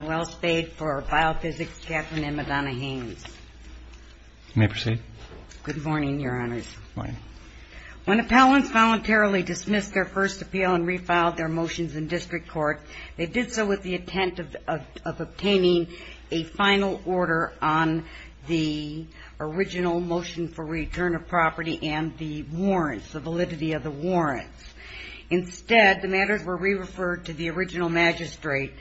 When appellants voluntarily dismissed their first appeal and refiled their motions in district court, they did so with the intent of obtaining a final order on the original motion for return of property and the validity of the warrants. Instead, the matters were re-referred to the original magistrate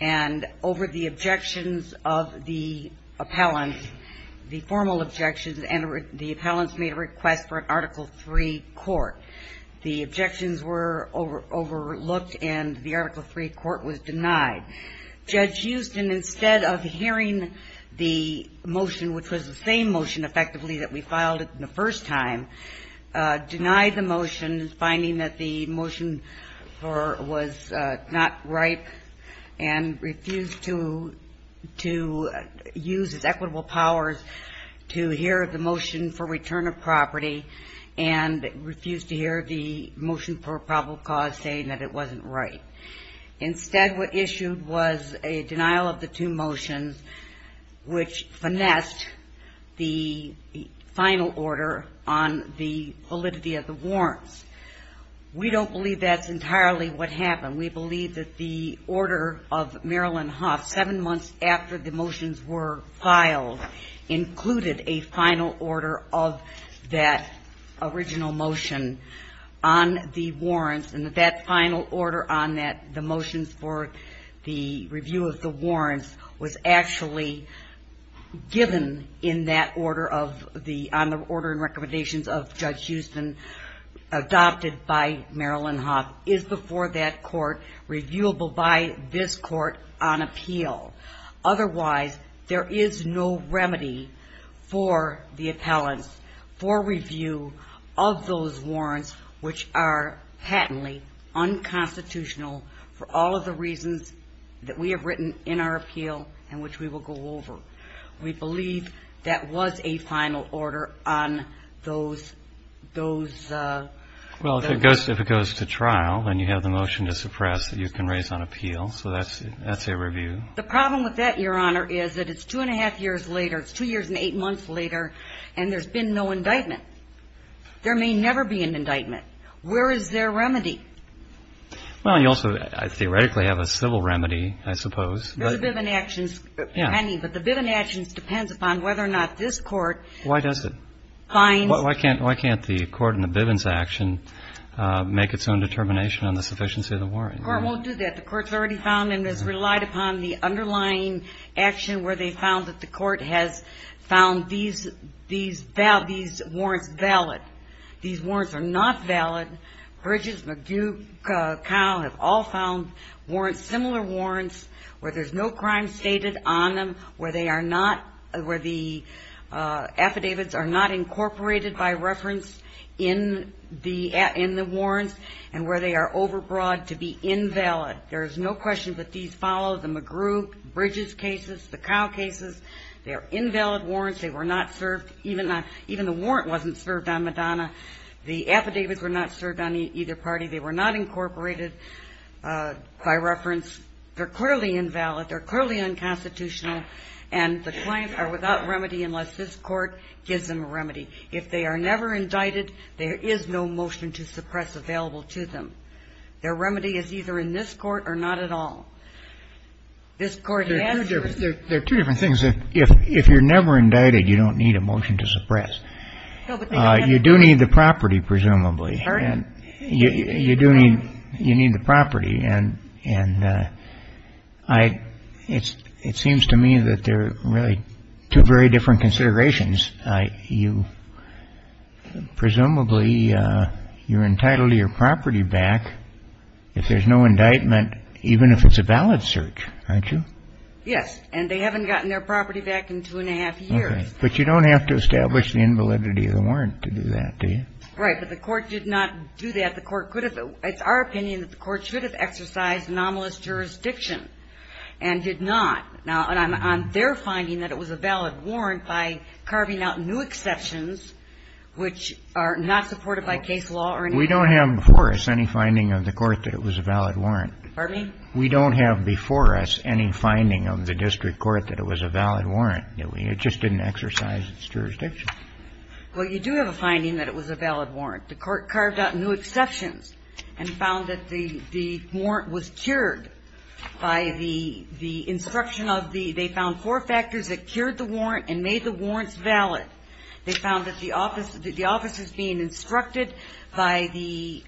and over the objections of the appellant, the formal objections, and the appellant's made a request for an Article III court. The objections were overlooked and the Article III court was denied. Judge Huston, instead of hearing the motion, which was the same motion, effectively, that we filed it the first time, denied the motion, finding that the motion was not right and refused to use its equitable powers to hear the motion for return of property and refused to hear the motion for probable cause saying that it wasn't right. Instead, what issued was a denial of the two motions, which finessed the final order on the validity of the warrants. We don't believe that's entirely what happened. We believe that the order of Marilyn Hoff, seven months after the motions were filed, included a final order of that original motion on the warrants and that that final order on that, the motions for the review of the warrants, was actually given in that order of the, on the order and recommendations of Judge Huston, adopted by Marilyn Hoff, is before that court, reviewable by this court, those warrants, which are patently unconstitutional for all of the reasons that we have written in our appeal and which we will go over. We believe that was a final order on those, those, uh... Well, if it goes, if it goes to trial, then you have the motion to suppress that you can raise on appeal, so that's, that's a review. The problem with that, Your Honor, is that it's two and a half years later, it's two years and eight months later, and there's been no indictment. There may never be an indictment. Where is there remedy? Well, you also, theoretically, have a civil remedy, I suppose. There's a Bivens action pending, but the Bivens action depends upon whether or not this court... Why does it? ...finds... Why can't, why can't the court in the Bivens action make its own determination on the sufficiency of the warrants? The court won't do that. The court's already found and has relied upon the underlying action where they found that the court has found these, these warrants valid. These warrants are not valid. Bridges, McGue, Kyle have all found warrants, similar warrants, where there's no crime stated on them, where they are not, where the affidavits are not incorporated by reference in the warrants, and where they are overbroad to be invalid. There is no question that these follow the McGue, Bridges cases, the Kyle cases. They are invalid warrants. They were not served, even the warrant wasn't served on Madonna. The affidavits were not served on either party. They were not incorporated by reference. They're clearly invalid. They're clearly unconstitutional, and the clients are without remedy unless this court gives them a remedy. If they are never indicted, there is no motion to suppress available to them. Their remedy is either in this court or not at all. This court has to. There are two different things. If you're never indicted, you don't need a motion to suppress. You do need the property, presumably, and you do need the property, and it seems to me that they're really two very different considerations. Presumably, you're entitled to your property back if there's no indictment, even if it's a valid search, aren't you? Yes, and they haven't gotten their property back in two and a half years. But you don't have to establish the invalidity of the warrant to do that, do you? Right. But the court did not do that. It's our opinion that the court should have exercised anomalous jurisdiction and did not. Now, and I'm on their finding that it was a valid warrant by carving out new exceptions which are not supported by case law or anything. We don't have before us any finding of the court that it was a valid warrant. Pardon me? We don't have before us any finding of the district court that it was a valid warrant. It just didn't exercise its jurisdiction. Well, you do have a finding that it was a valid warrant. The court carved out new exceptions and found that the warrant was cured by the instruction of the – they found four factors that cured the warrant and made the warrants valid. They found that the officers being instructed by the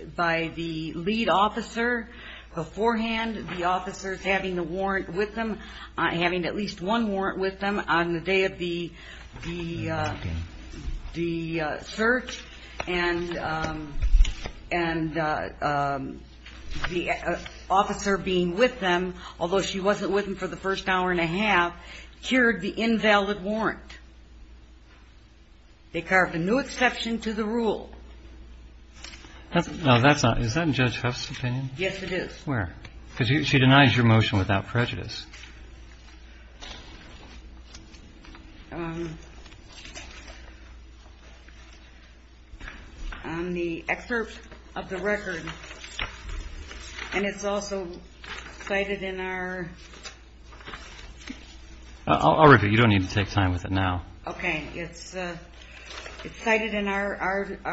lead officer beforehand, the officers having the warrant with them, having at least one warrant with them on the day of the search. And the officer being with them, although she wasn't with them for the first hour and a half, cured the invalid warrant. They carved a new exception to the rule. That's not – is that in Judge Huff's opinion? Yes, it is. Where? Because she denies your motion without prejudice. On the excerpt of the record, and it's also cited in our – I'll read it. You don't need to take time with it now. Okay. It's cited in our –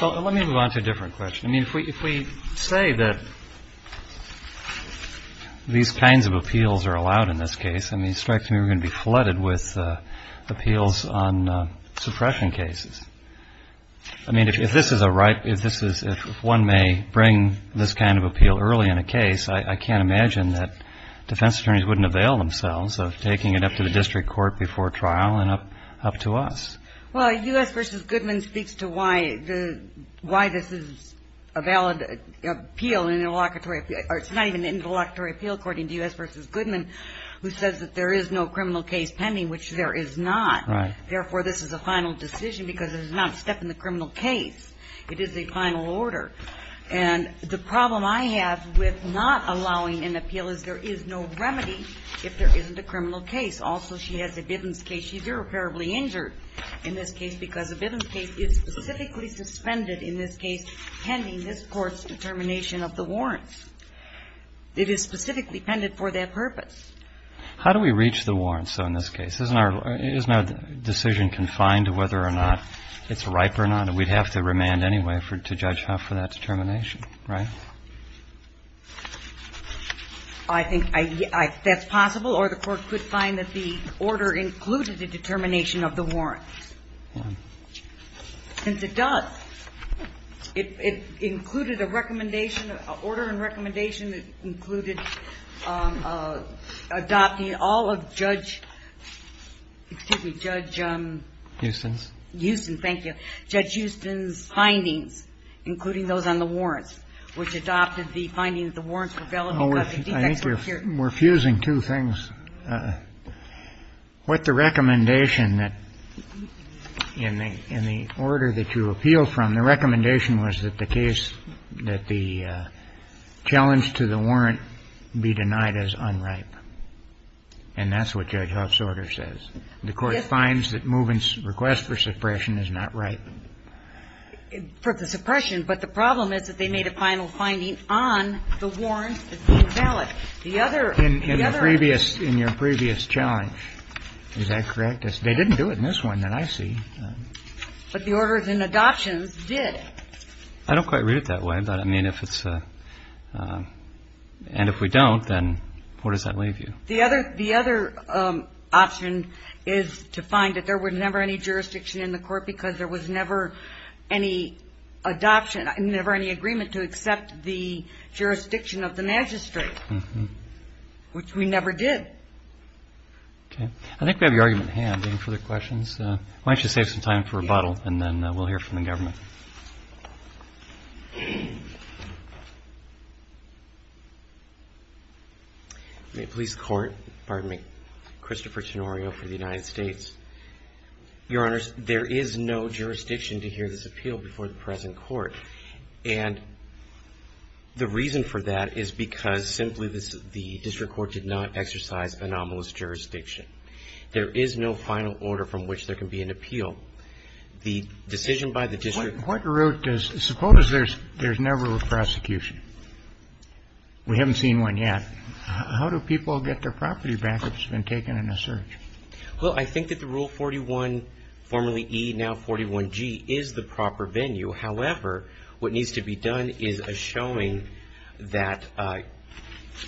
Let me move on to a different question. I mean, if we say that these kinds of appeals are allowed in this case, I mean, it strikes me we're going to be flooded with appeals on suppression cases. I mean, if this is a right – if this is – if one may bring this kind of appeal early in a case, I can't imagine that defense attorneys wouldn't avail themselves of taking it up to the district court before trial and up to us. Well, U.S. v. Goodman speaks to why the – why this is a valid appeal, an interlocutory – or it's not even an interlocutory appeal, according to U.S. v. Goodman, who says that there is no criminal case pending, which there is not. Right. Therefore, this is a final decision because it is not a step in the criminal case. It is a final order. And the problem I have with not allowing an appeal is there is no remedy if there isn't a criminal case. Also, she has a business case. She's irreparably injured. In this case, because the business case is specifically suspended, in this case, pending this Court's determination of the warrants. It is specifically pending for that purpose. How do we reach the warrants, though, in this case? Isn't our – isn't our decision confined to whether or not it's ripe or not? We'd have to remand anyway for – to judge how – for that determination, right? I think I – that's possible, or the Court could find that the order included a determination of the warrants. Since it does, it – it included a recommendation – order and recommendation that included adopting all of Judge – excuse me, Judge – Huston's. Huston, thank you. Judge Huston's findings, including those on the warrants, which adopted the finding that the warrants were valid because the defects were secure. I think you're – we're fusing two things. With the recommendation that in the – in the order that you appealed from, the recommendation was that the case – that the challenge to the warrant be denied as unripe. And that's what Judge Huff's order says. The Court finds that Moovan's request for suppression is not ripe. For the suppression, but the problem is that they made a final finding on the warrants that were valid. The other – the other – In the previous – in your previous challenge, is that correct? They didn't do it in this one that I see. But the orders in adoptions did. I don't quite read it that way, but, I mean, if it's a – and if we don't, then where does that leave you? The other – the other option is to find that there was never any jurisdiction in the Court because there was never any adoption, never any agreement to accept the jurisdiction of the magistrate, which we never did. Okay. I think we have your argument at hand. Any further questions? Why don't you save some time for rebuttal, and then we'll hear from the government. May it please the Court. Pardon me. Christopher Tenorio for the United States. Your Honors, there is no jurisdiction to hear this appeal before the present Court. And the reason for that is because, simply, this – the district court did not exercise anomalous jurisdiction. There is no final order from which there can be an appeal. So the decision by the district court – What route does – suppose there's never a prosecution. We haven't seen one yet. How do people get their property back if it's been taken in a search? Well, I think that the Rule 41, formerly E, now 41G, is the proper venue. However, what needs to be done is a showing that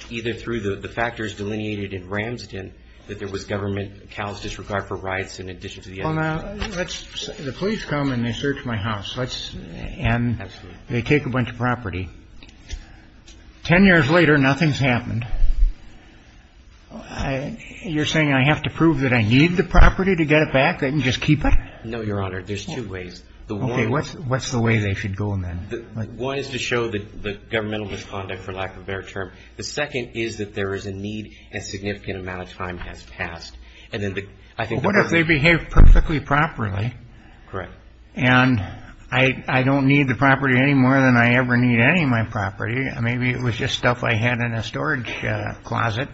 either through the factors delineated in Ramsden, that there was government callous disregard for rights in addition to the other – Well, now, let's – the police come and they search my house. Let's – and they take a bunch of property. Ten years later, nothing's happened. You're saying I have to prove that I need the property to get it back? I can just keep it? No, Your Honor. There's two ways. Okay. What's the way they should go, then? One is to show the governmental misconduct for lack of a better term. The second is that there is a need and a significant amount of time has passed. And then the – I think the first – And I don't need the property any more than I ever need any of my property. Maybe it was just stuff I had in a storage closet.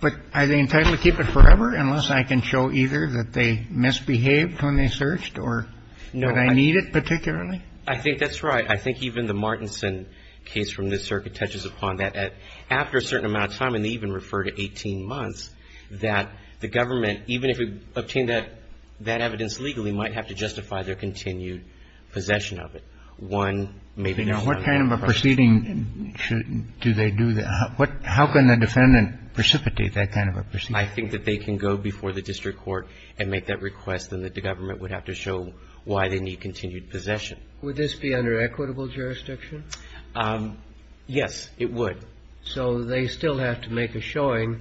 But are they entitled to keep it forever unless I can show either that they misbehaved when they searched or that I need it particularly? I think that's right. I think even the Martinson case from this circuit touches upon that. After a certain amount of time, and they even refer to 18 months, that the government, even if it obtained that evidence legally, might have to justify their continued possession of it. One, maybe there's another question. Now, what kind of a proceeding should – do they do the – how can the defendant precipitate that kind of a proceeding? I think that they can go before the district court and make that request, and that the government would have to show why they need continued possession. Would this be under equitable jurisdiction? Yes, it would. So they still have to make a showing,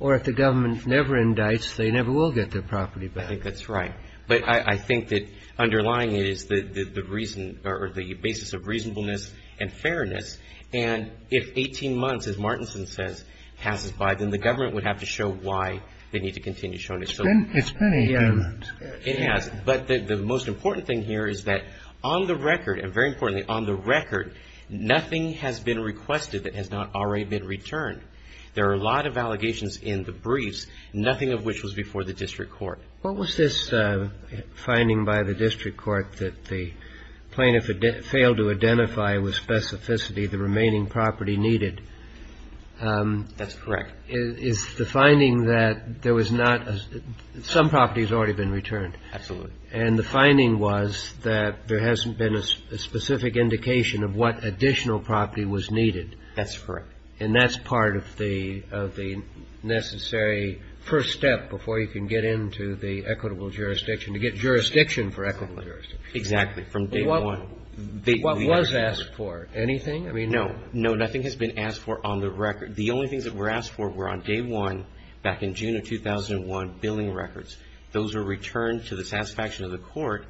or if the government never indicts, they never will get their property back. I think that's right. But I think that underlying it is the reason – or the basis of reasonableness and fairness. And if 18 months, as Martinson says, passes by, then the government would have to show why they need to continue showing it. It's been 18 months. It has. But the most important thing here is that on the record, and very importantly on the record, nothing has been requested that has not already been returned. There are a lot of allegations in the briefs, nothing of which was before the district court. What was this finding by the district court that the plaintiff failed to identify with specificity the remaining property needed? That's correct. Is the finding that there was not – some property has already been returned. Absolutely. And the finding was that there hasn't been a specific indication of what additional property was needed. That's correct. And that's part of the necessary first step before you can get into the equitable jurisdiction, to get jurisdiction for equitable jurisdiction. Exactly, from day one. What was asked for? Anything? I mean, no. No, nothing has been asked for on the record. The only things that were asked for were on day one, back in June of 2001, billing records. Those were returned to the satisfaction of the court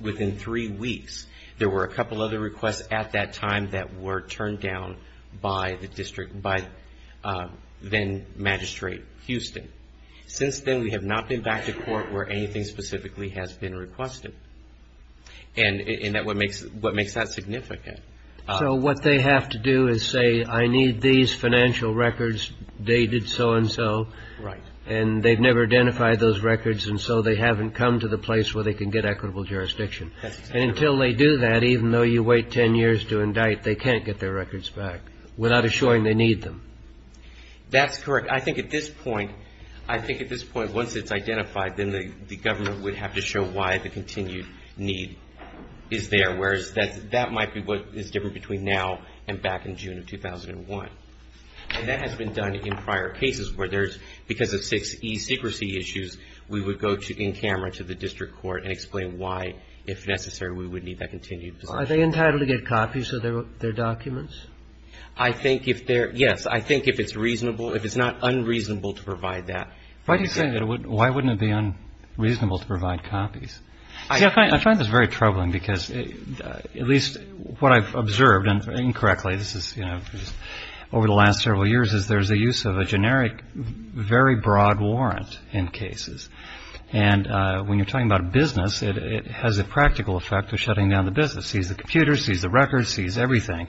within three weeks. There were a couple other requests at that time that were turned down by the district – by then-Magistrate Houston. Since then, we have not been back to court where anything specifically has been requested. And what makes that significant? So what they have to do is say, I need these financial records dated so and so. Right. And they've never identified those records, and so they haven't come to the place where they can get equitable jurisdiction. And until they do that, even though you wait 10 years to indict, they can't get their records back without assuring they need them. That's correct. I think at this point – I think at this point, once it's identified, then the government would have to show why the continued need is there, whereas that might be what is different between now and back in June of 2001. And that has been done in prior cases where there's – because of six e-secrecy issues, we would go to – in camera to the district court and explain why, if necessary, we would need that continued position. Are they entitled to get copies of their documents? I think if they're – yes. I think if it's reasonable – if it's not unreasonable to provide that. Why do you say that? Why wouldn't it be unreasonable to provide copies? See, I find this very troubling because at least what I've observed, and incorrectly, this is over the last several years, is there's a use of a generic, very broad warrant in cases. And when you're talking about a business, it has a practical effect of shutting down the business. It sees the computers, sees the records, sees everything.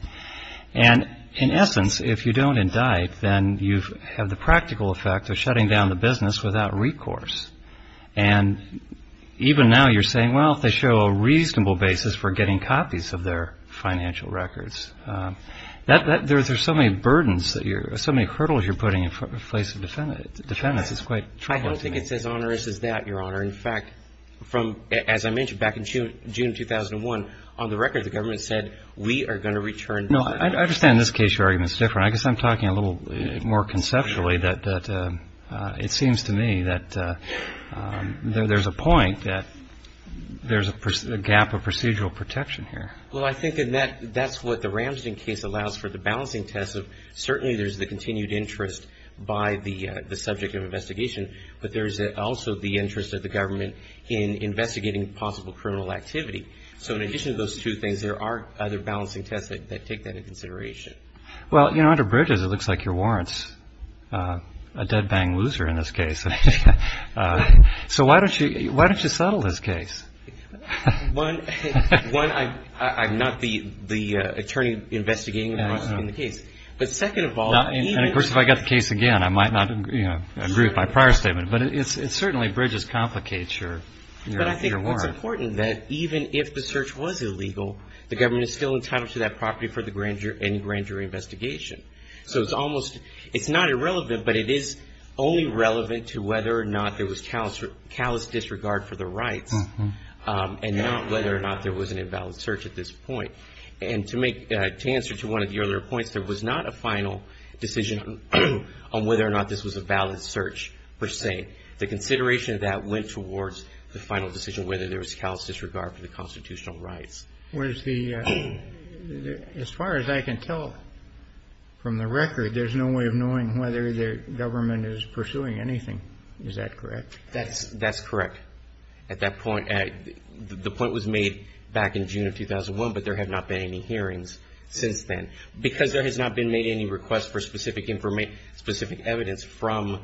And in essence, if you don't indict, then you have the practical effect of shutting down the business without recourse. And even now you're saying, well, if they show a reasonable basis for getting copies of their financial records. There's so many burdens that you're – so many hurdles you're putting in place of defendants. It's quite troubling to me. I don't think it's as onerous as that, Your Honor. In fact, from – as I mentioned, back in June 2001, on the record, the government said, we are going to return – No, I understand in this case your argument's different. I guess I'm talking a little more conceptually that it seems to me that there's a point that there's a gap of procedural protection here. Well, I think in that – that's what the Ramsden case allows for the balancing test of certainly there's the continued interest by the subject of investigation, but there's also the interest of the government in investigating possible criminal activity. So in addition to those two things, there are other balancing tests that take that into consideration. Well, you know, under Bridges, it looks like you're warrants a dead bang loser in this case. So why don't you settle this case? One, I'm not the attorney investigating the rest of the case. But second of all, even – And of course, if I got the case again, I might not, you know, agree with my prior statement. But it certainly, Bridges, complicates your warrant. But I think it's important that even if the search was illegal, the government is still entitled to that property for the grand jury investigation. So it's almost – it's not irrelevant, but it is only relevant to whether or not there was callous disregard for the rights. And not whether or not there was an invalid search at this point. And to answer to one of the earlier points, there was not a final decision on whether or not this was a valid search, per se. The consideration of that went towards the final decision, whether there was callous disregard for the constitutional rights. Was the – as far as I can tell from the record, there's no way of knowing whether the government is pursuing anything. Is that correct? That's correct. At that point – the point was made back in June of 2001, but there have not been any hearings since then. Because there has not been made any request for specific evidence from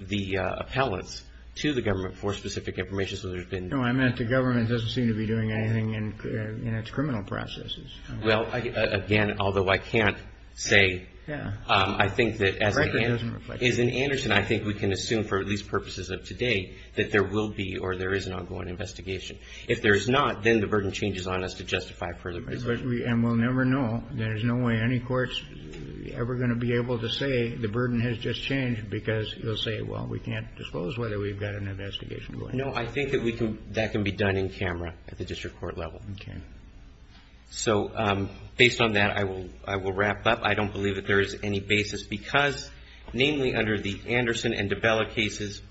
the appellants to the government for specific information. So there's been – No, I meant the government doesn't seem to be doing anything in its criminal processes. Well, again, although I can't say – Yeah. I think that as – The record doesn't reflect that. In Anderson, I think we can assume, for at least purposes of today, that there will be or there is an ongoing investigation. If there's not, then the burden changes on us to justify further investigation. And we'll never know. There's no way any court's ever going to be able to say the burden has just changed because you'll say, well, we can't disclose whether we've got an investigation going on. No, I think that we can – that can be done in camera at the district court level. Okay. So based on that, I will wrap up. I don't believe that there is any basis because, namely, under the Anderson and DiBella cases,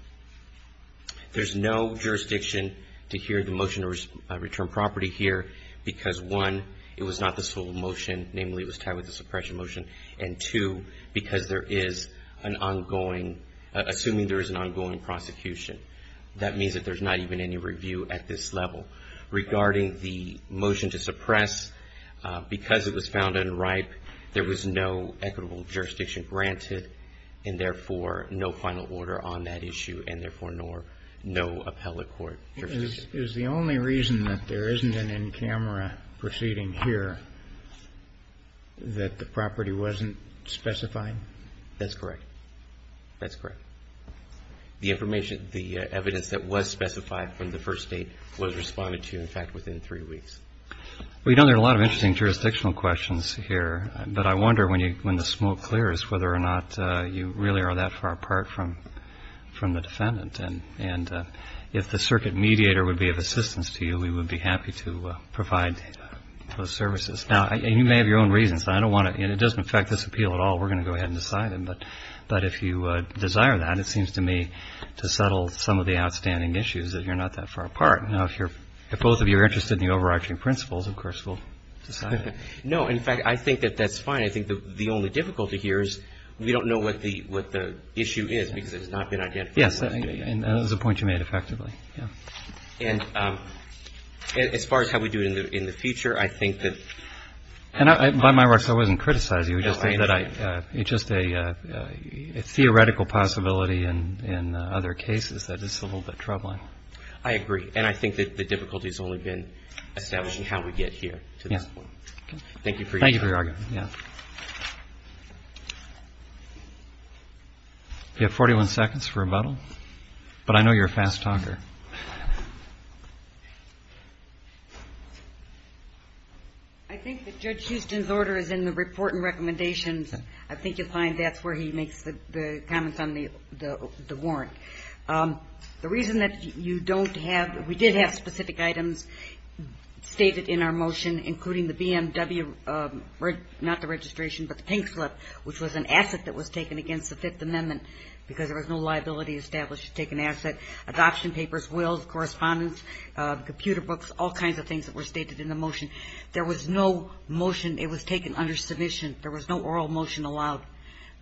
there's no jurisdiction to hear the motion to return property here because, one, it was not the sole motion. Namely, it was tied with the suppression motion. And two, because there is an ongoing – assuming there is an ongoing prosecution. That means that there's not even any review at this level. Regarding the motion to suppress, because it was found unripe, there was no equitable jurisdiction granted and, therefore, no final order on that issue and, therefore, no appellate court jurisdiction. Is the only reason that there isn't an in-camera proceeding here that the property wasn't specified? That's correct. That's correct. The information – the evidence that was specified from the first date was responded to, in fact, within three weeks. Well, you know, there are a lot of interesting jurisdictional questions here. But I wonder when the smoke clears whether or not you really are that far apart from the defendant. And if the circuit mediator would be of assistance to you, we would be happy to provide those services. Now, you may have your own reasons. I don't want to – it doesn't affect this appeal at all. We're going to go ahead and decide it. But if you desire that, it seems to me to settle some of the outstanding issues that you're not that far apart. Now, if you're – if both of you are interested in the overarching principles, of course, we'll decide it. No, in fact, I think that that's fine. I think the only difficulty here is we don't know what the issue is because it has not been identified. Yes, and that is a point you made effectively, yeah. And as far as how we do it in the future, I think that… And by my words, I wasn't criticizing you. No, I understand. It's just a theoretical possibility in other cases that it's a little bit troubling. I agree. And I think that the difficulty has only been establishing how we get here to this point. Thank you for your time. Thank you for your argument, yeah. You have 41 seconds for rebuttal. But I know you're a fast talker. I think that Judge Huston's order is in the report and recommendations. I think you'll find that's where he makes the comments on the warrant. The reason that you don't have – we did have specific items stated in our motion, including the BMW – not the registration, but the pink slip, which was an asset that was taken against the Fifth Amendment because there was no liability established to take an asset. Adoption papers were not taken against the Fifth Amendment. Correspondence, computer books, all kinds of things that were stated in the motion. There was no motion. It was taken under submission. There was no oral motion allowed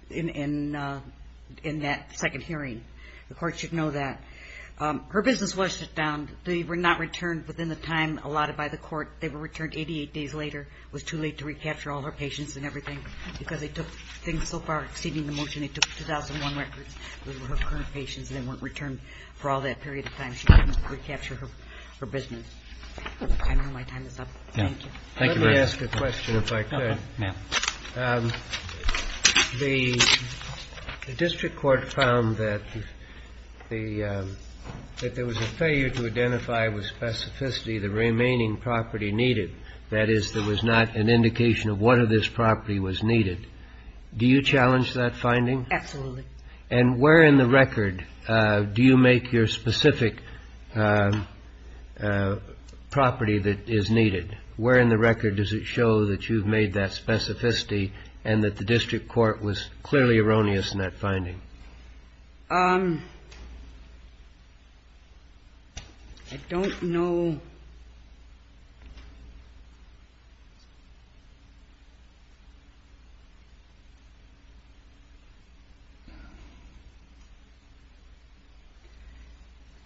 in that second hearing. The court should know that. Her business was shut down. They were not returned within the time allotted by the court. They were returned 88 days later. It was too late to recapture all her patients and everything because they took things so far exceeding the motion. Those were her current patients and they weren't returned for all that period of time. She couldn't recapture her business. I don't know if my time is up. Thank you. Thank you, ma'am. Let me ask a question, if I could. Okay, ma'am. The district court found that the – that there was a failure to identify with specificity the remaining property needed. That is, there was not an indication of what of this property was needed. Do you challenge that finding? Absolutely. And where in the record do you make your specific property that is needed? Where in the record does it show that you've made that specificity and that the district court was clearly erroneous in that finding? I don't know –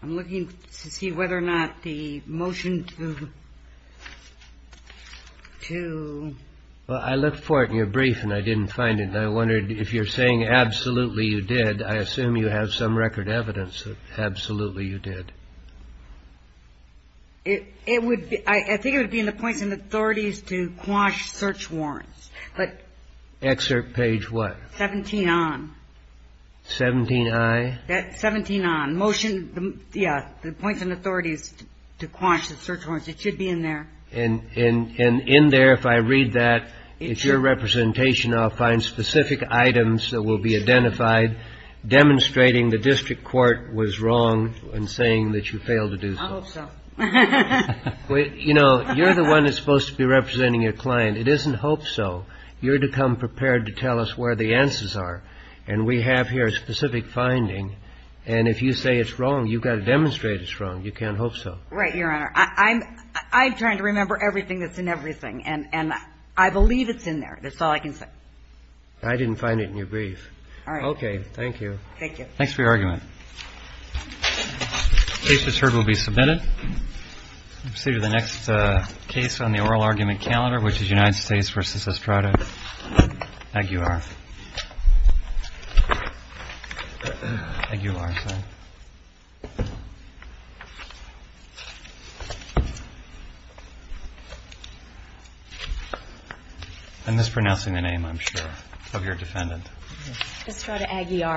I'm looking to see whether or not the motion to – to – Well, I looked for it in your brief and I didn't find it. I wondered if you're saying absolutely you did. I assume you have some record evidence that absolutely you did. It – it would – I think it would be in the points and authorities to quash search warrants. But – Excerpt page what? 17 on. 17i? That – 17 on. Motion – yeah, the points and authorities to quash the search warrants. It should be in there. And – and in there, if I read that, it's your representation. I'll find specific items that will be identified demonstrating the district court was wrong in saying that you failed to do so. I hope so. You know, you're the one that's supposed to be representing your client. It isn't hope so. You're to come prepared to tell us where the answers are. And we have here a specific finding. And if you say it's wrong, you've got to demonstrate it's wrong. You can't hope so. Right, Your Honor. I'm – I'm trying to remember everything that's in everything. And – and I believe it's in there. That's all I can say. I didn't find it in your brief. All right. Okay. Thank you. Thank you. Thanks for your argument. The case that's heard will be submitted. We'll proceed to the next case on the oral argument calendar, which is United States v. Estrada. Thank you, Your Honor. Thank you, Your Honor. I'm mispronouncing the name, I'm sure, of your defendant. Estrada Aguiar.